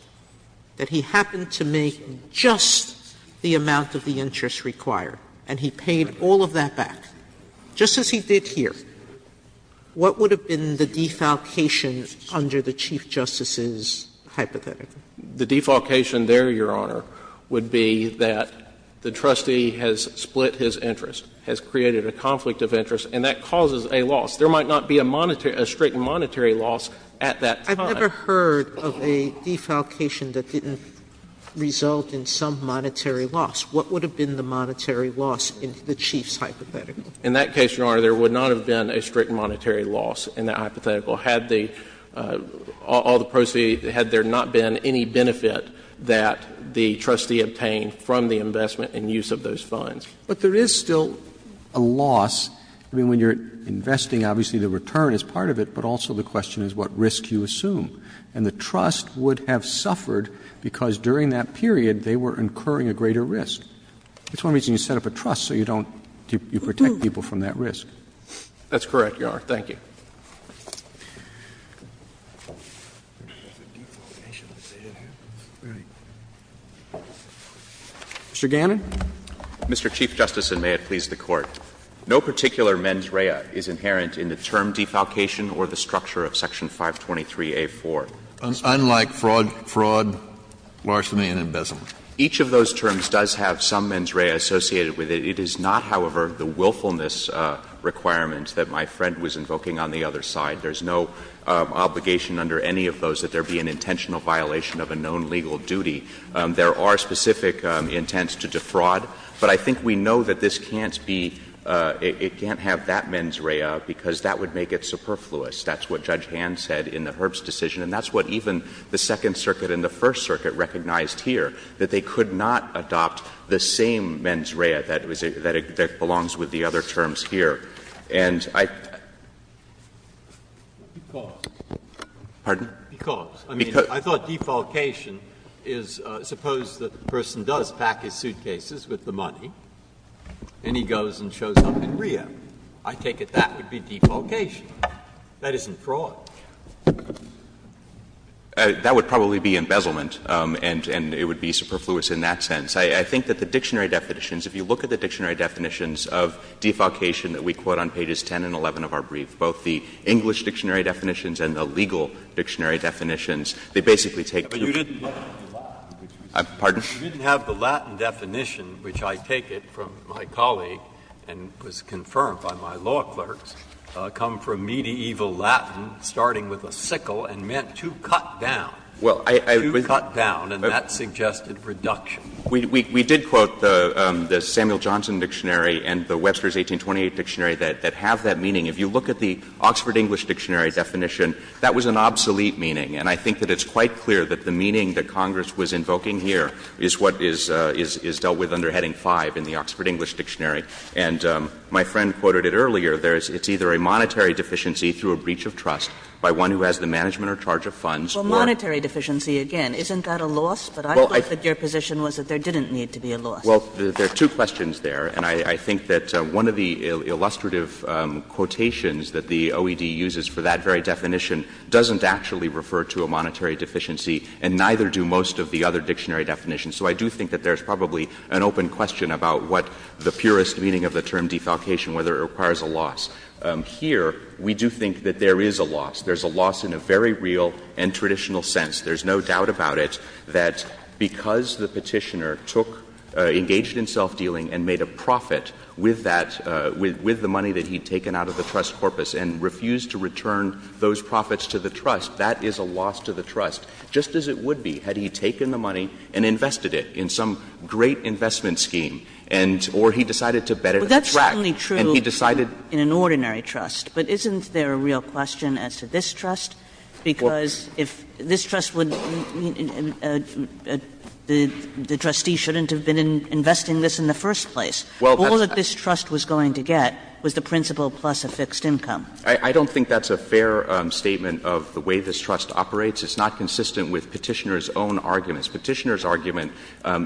that he happened to make just the amount of the interest required, and he paid all of that back, just as he did here. What would have been the defalcation under the Chief Justice's hypothetical? The defalcation there, Your Honor, would be that the trustee has split his interest, has created a conflict of interest, and that causes a loss. There might not be a monetary — a strict monetary loss at that time. Sotomayor, I've never heard of a defalcation that didn't result in some monetary loss. What would have been the monetary loss in the Chief's hypothetical? In that case, Your Honor, there would not have been a strict monetary loss in that hypothetical, had the — all the proceeds — had there not been any defalcation or any benefit that the trustee obtained from the investment and use of those funds. But there is still a loss, I mean, when you're investing, obviously, the return is part of it, but also the question is what risk you assume. And the trust would have suffered because during that period they were incurring a greater risk. That's one reason you set up a trust, so you don't — you protect people from that risk. That's correct, Your Honor. Thank you. Mr. Gannon. Mr. Chief Justice, and may it please the Court. No particular mens rea is inherent in the term defalcation or the structure of Section 523a.4. Unlike fraud, larceny and embezzlement. Each of those terms does have some mens rea associated with it. It is not, however, the willfulness requirement that my friend was invoking on the other side. There's no obligation under any of those that there be an intentional violation of a known legal duty. There are specific intents to defraud, but I think we know that this can't be — it can't have that mens rea because that would make it superfluous. That's what Judge Hand said in the Herbst decision, and that's what even the Second Circuit and the First Circuit recognized here, that they could not adopt the same mens rea, that it belongs with the other terms here. And I — Because. Pardon? Because. I mean, I thought defalcation is suppose that the person does pack his suitcases with the money, and he goes and shows up in rehab. I take it that would be defalcation. That isn't fraud. That would probably be embezzlement, and it would be superfluous in that sense. I think that the dictionary definitions, if you look at the dictionary definitions of defalcation that we quote on pages 10 and 11 of our brief, both the English dictionary definitions and the legal dictionary definitions, they basically take. But you didn't have the Latin definition, which I take it, from my colleague and was confirmed by my law clerks, come from medieval Latin, starting with a sickle and meant to cut down, to cut down, and that suggested reduction. We did quote the Samuel Johnson dictionary and the Webster's 1828 dictionary that have that meaning. If you look at the Oxford English dictionary definition, that was an obsolete meaning, and I think that it's quite clear that the meaning that Congress was invoking here is what is dealt with under Heading 5 in the Oxford English dictionary. And my friend quoted it earlier. It's either a monetary deficiency through a breach of trust by one who has the management or charge of funds, or — Well, monetary deficiency, again, isn't that a loss? But I thought that your position was that there didn't need to be a loss. Well, there are two questions there, and I think that one of the illustrative quotations that the OED uses for that very definition doesn't actually refer to a monetary deficiency, and neither do most of the other dictionary definitions. So I do think that there's probably an open question about what the purest meaning of the term defalcation, whether it requires a loss. Here, we do think that there is a loss. There's a loss in a very real and traditional sense. There's no doubt about it, that because the Petitioner took — engaged in self-dealing and made a profit with that — with the money that he'd taken out of the trust corpus and refused to return those profits to the trust, that is a loss to the trust, just as it would be had he taken the money and invested it in some great investment scheme, and — or he decided to bet it a frack. And he decided — Well, that's certainly true in an ordinary trust, but isn't there a real question as to this trust? Because if this trust would — the trustee shouldn't have been investing this in the first place. All that this trust was going to get was the principal plus a fixed income. I don't think that's a fair statement of the way this trust operates. It's not consistent with Petitioner's own arguments. Petitioner's argument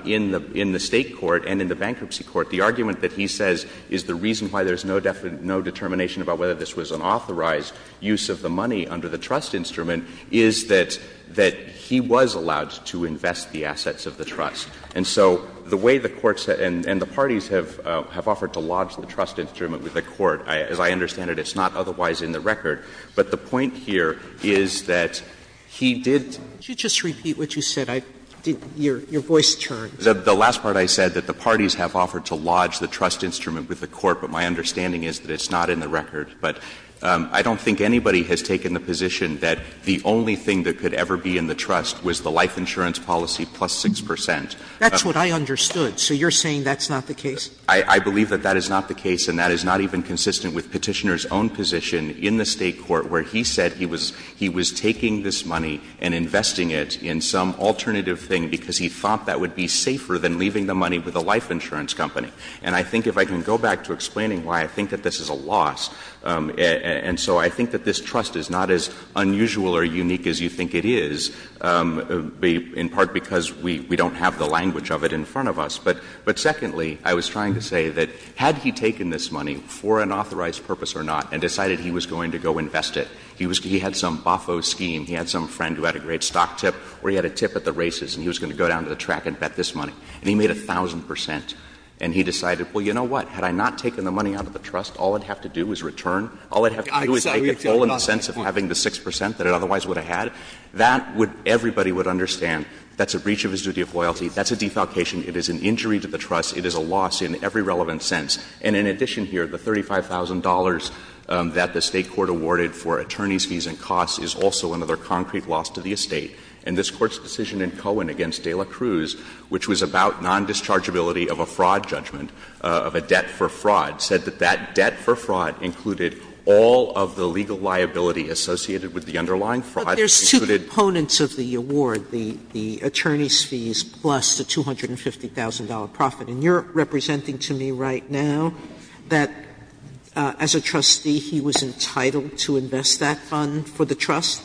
in the State court and in the bankruptcy court, the argument that he says is the reason why there's no determination about whether this was an authorized use of the money under the trust instrument is that — that he was allowed to invest the assets of the trust. And so the way the courts and the parties have — have offered to lodge the trust instrument with the court, as I understand it, it's not otherwise in the record. But the point here is that he did — Sotomayor, did you just repeat what you said? I didn't — your voice turned. The last part I said, that the parties have offered to lodge the trust instrument with the court, but my understanding is that it's not in the record. But I don't think anybody has taken the position that the only thing that could ever be in the trust was the life insurance policy plus 6 percent. That's what I understood. So you're saying that's not the case? I believe that that is not the case, and that is not even consistent with Petitioner's own position in the State court where he said he was — he was taking this money and investing it in some alternative thing because he thought that would be safer than leaving the money with a life insurance company. And I think if I can go back to explaining why I think that this is a loss, and so I think that this trust is not as unusual or unique as you think it is, in part because we don't have the language of it in front of us. But secondly, I was trying to say that had he taken this money for an authorized purpose or not and decided he was going to go invest it, he had some baffo scheme, he had some friend who had a great stock tip, or he had a tip at the races and he was going to go down to the track and bet this money. And he made 1,000 percent, and he decided, well, you know what, had I not taken the money out of the trust, all I'd have to do is return. All I'd have to do is take a toll on the sense of having the 6 percent that I otherwise would have had. That would — everybody would understand that's a breach of his duty of loyalty. That's a defalcation. It is an injury to the trust. It is a loss in every relevant sense. And in addition here, the $35,000 that the State court awarded for attorneys' fees and costs is also another concrete loss to the estate. And this Court's decision in Cohen against De La Cruz, which was about non-dischargeability of a fraud judgment, of a debt for fraud, said that that debt for fraud included all of the legal liability associated with the underlying fraud. Sotomayor, there's two components of the award, the attorneys' fees plus the $250,000 profit. And you're representing to me right now that as a trustee he was entitled to invest that fund for the trust?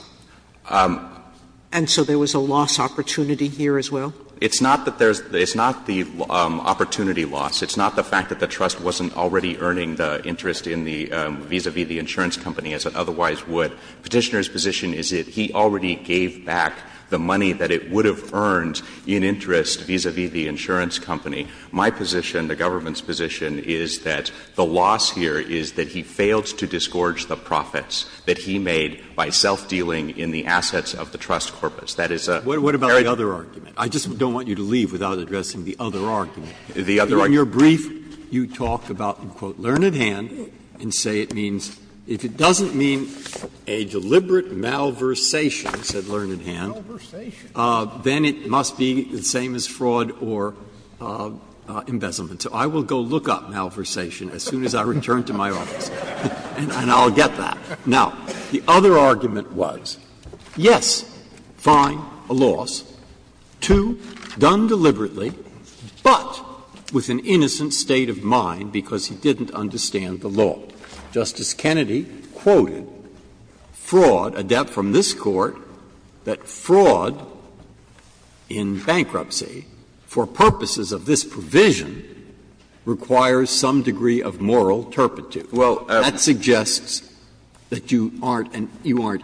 And so there was a loss opportunity here as well? It's not that there's — it's not the opportunity loss. It's not the fact that the trust wasn't already earning the interest in the — vis-à-vis the insurance company as it otherwise would. Petitioner's position is that he already gave back the money that it would have earned in interest vis-à-vis the insurance company. My position, the government's position, is that the loss here is that he failed to discourage the profits that he made by self-dealing in the assets of the trust corpus. That is a very different case. Breyer, what about the other argument? I just don't want you to leave without addressing the other argument. The other argument. In your brief, you talk about, quote, ''learned hand'' and say it means, if it doesn't mean a deliberate malversation, said learned hand, then it must be the same as fraud or embezzlement. So I will go look up malversation as soon as I return to my office. And I'll get that. Now, the other argument was, yes, fine, a loss, two, done deliberately, but with an innocent state of mind because he didn't understand the law. Justice Kennedy quoted fraud, a debt from this Court, that fraud in bankruptcy for purposes of this provision requires some degree of moral turpitude. That suggests that you aren't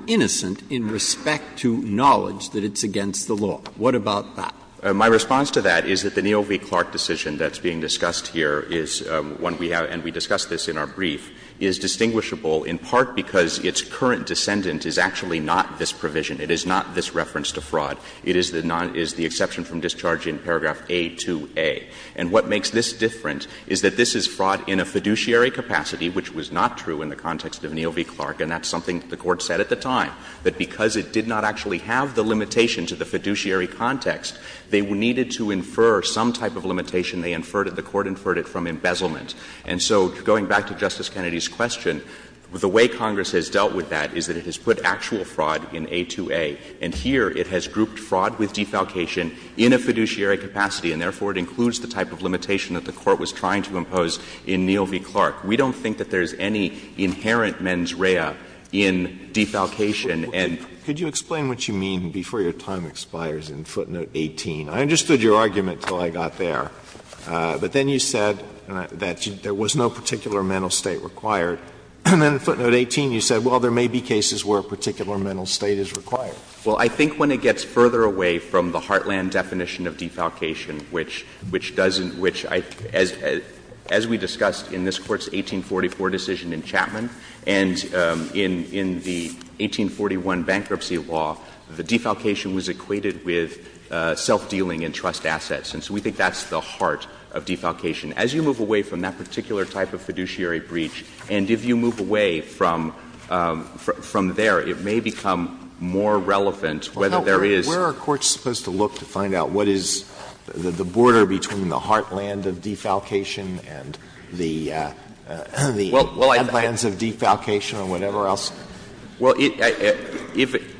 innocent in respect to knowledge that it's against the law. What about that? My response to that is that the Neal v. Clark decision that's being discussed here is one we have, and we discussed this in our brief, is distinguishable in part because its current descendant is actually not this provision. It is not this reference to fraud. It is the exception from discharge in paragraph A-2a. And what makes this different is that this is fraud in a fiduciary capacity, which was not true in the context of Neal v. Clark, and that's something the Court said at the time, that because it did not actually have the limitation to the fiduciary context, they needed to infer some type of limitation. They inferred it, the Court inferred it, from embezzlement. And so going back to Justice Kennedy's question, the way Congress has dealt with that is that it has put actual fraud in A-2a, and here it has grouped fraud with defalcation in a fiduciary capacity, and therefore it includes the type of limitation that the Court was trying to impose in Neal v. Clark. We don't think that there's any inherent mens rea in defalcation and perjury. Could you explain what you mean before your time expires in footnote 18? I understood your argument until I got there, but then you said that there was no particular mental state required. And then in footnote 18 you said, well, there may be cases where a particular mental state is required. Well, I think when it gets further away from the heartland definition of defalcation, which doesn't — which, as we discussed in this Court's 1844 decision in Chapman and in the 1841 bankruptcy law, the defalcation was equated with self-dealing in trust assets, and so we think that's the heart of defalcation. As you move away from that particular type of fiduciary breach, and if you move away from there, it may become more relevant whether there is — Well, how — where are courts supposed to look to find out what is the border between the heartland of defalcation and the headlands of defalcation or whatever else? Well, if —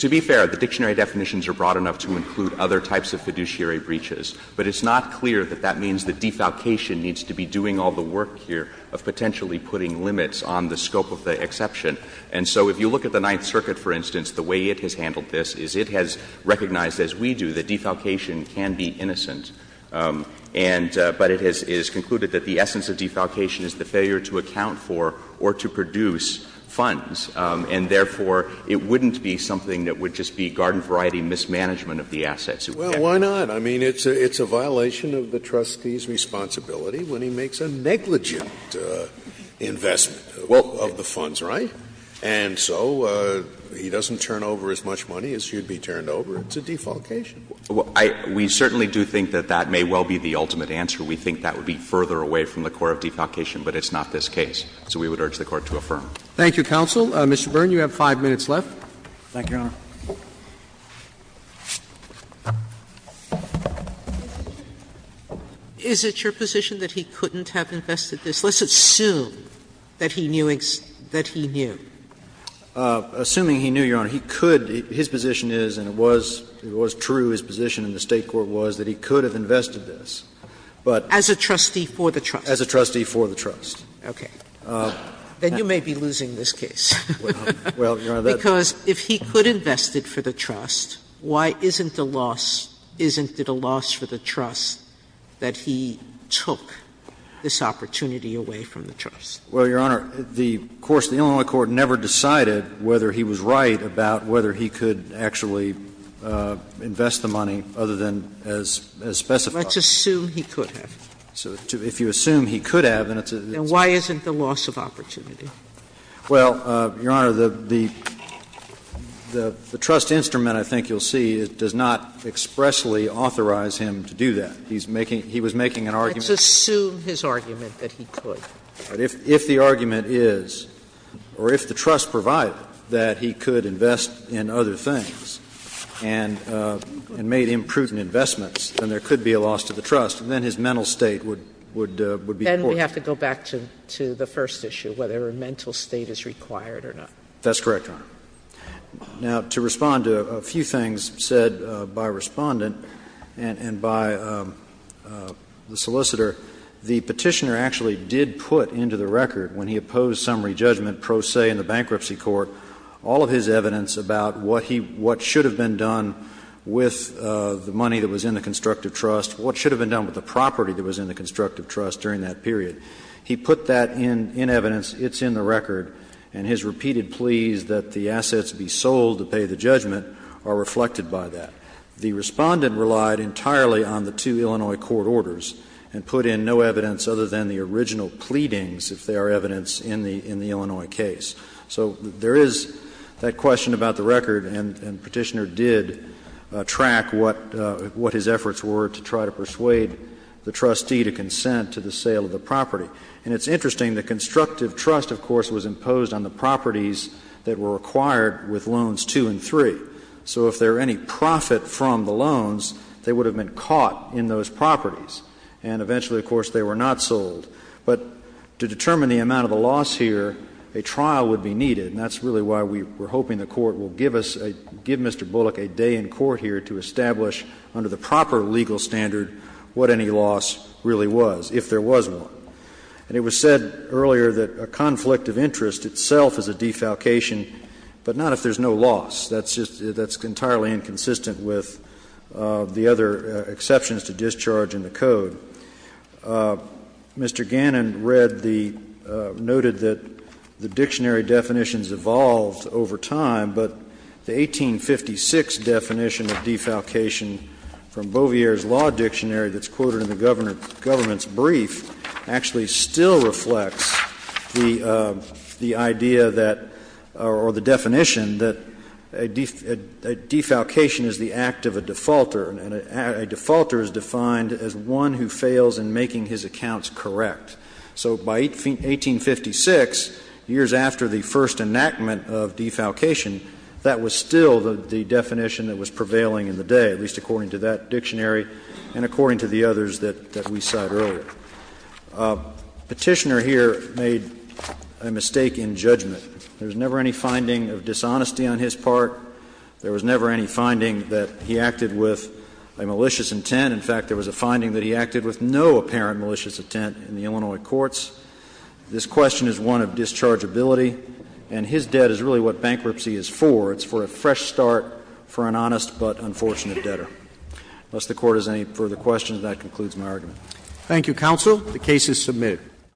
to be fair, the dictionary definitions are broad enough to include other types of fiduciary breaches, but it's not clear that that means that defalcation needs to be doing all the work here of potentially putting limits on the scope of the exception. And so if you look at the Ninth Circuit, for instance, the way it has handled this is it has recognized, as we do, that defalcation can be innocent, and — but it has concluded that the essence of defalcation is the failure to account for or to produce funds, and therefore, it wouldn't be something that would just be garden-variety mismanagement of the assets. Well, why not? I mean, it's a violation of the trustee's responsibility when he makes a negligent investment — well, of the funds, right? And so he doesn't turn over as much money as he would be turned over. It's a defalcation. Well, I — we certainly do think that that may well be the ultimate answer. We think that would be further away from the core of defalcation, but it's not this case. So we would urge the Court to affirm. Thank you, counsel. Mr. Byrne, you have 5 minutes left. Thank you, Your Honor. Sotomayor, is it your position that he couldn't have invested this? Let's assume that he knew — that he knew. Assuming he knew, Your Honor, he could — his position is, and it was — it was true, his position in the State court was, that he could have invested this, but — As a trustee for the trust. As a trustee for the trust. Okay. Well, Your Honor, that's — Because if he could invest it for the trust, why isn't the loss — isn't it a loss for the trust that he took this opportunity away from the trust? Well, Your Honor, the course of the Illinois court never decided whether he was right about whether he could actually invest the money, other than as specified. Let's assume he could have. So if you assume he could have, then it's a — Then why isn't the loss of opportunity? Well, Your Honor, the — the trust instrument, I think you'll see, does not expressly authorize him to do that. He's making — he was making an argument — Let's assume his argument that he could. But if the argument is, or if the trust provided that he could invest in other things and made imprudent investments, then there could be a loss to the trust, and then his mental state would be — Then we have to go back to — to the first issue, whether a mental state is required or not. That's correct, Your Honor. Now, to respond to a few things said by Respondent and by the solicitor, the Petitioner actually did put into the record, when he opposed summary judgment pro se in the Bankruptcy Court, all of his evidence about what he — what should have been done with the money that was in the constructive trust, what should have been done with the property that was in the constructive trust during that period, he put that in — in evidence. It's in the record. And his repeated pleas that the assets be sold to pay the judgment are reflected by that. The Respondent relied entirely on the two Illinois court orders and put in no evidence other than the original pleadings, if they are evidence in the — in the Illinois case. So there is that question about the record, and the Petitioner did track what — what his efforts were to try to persuade the trustee to consent to the sale of the property. And it's interesting, the constructive trust, of course, was imposed on the properties that were acquired with loans two and three. So if there were any profit from the loans, they would have been caught in those properties. And eventually, of course, they were not sold. But to determine the amount of the loss here, a trial would be needed, and that's really why we were hoping the Court will give us a — give Mr. Bullock a day in court here to establish under the proper legal standard what any loss really was, if there was one. And it was said earlier that a conflict of interest itself is a defalcation, but not if there's no loss. That's just — that's entirely inconsistent with the other exceptions to discharge in the Code. Mr. Gannon read the — noted that the dictionary definitions evolved over time, but the 1856 definition of defalcation from Beauvier's Law Dictionary that's quoted in the government's brief actually still reflects the idea that — or the definition that a defalcation is the act of a defaulter, and a defaulter is defined as one who fails in making his accounts correct. So by 1856, years after the first enactment of defalcation, that was still the definition that was prevailing in the day, at least according to that dictionary and according to the others that — that we cite earlier. Petitioner here made a mistake in judgment. There was never any finding of dishonesty on his part. There was never any finding that he acted with a malicious intent. In fact, there was a finding that he acted with no apparent malicious intent in the Illinois courts. This question is one of dischargeability, and his debt is really what bankruptcy is for. It's for a fresh start for an honest but unfortunate debtor. Unless the Court has any further questions, that concludes my argument. Roberts. Thank you, counsel. The case is submitted.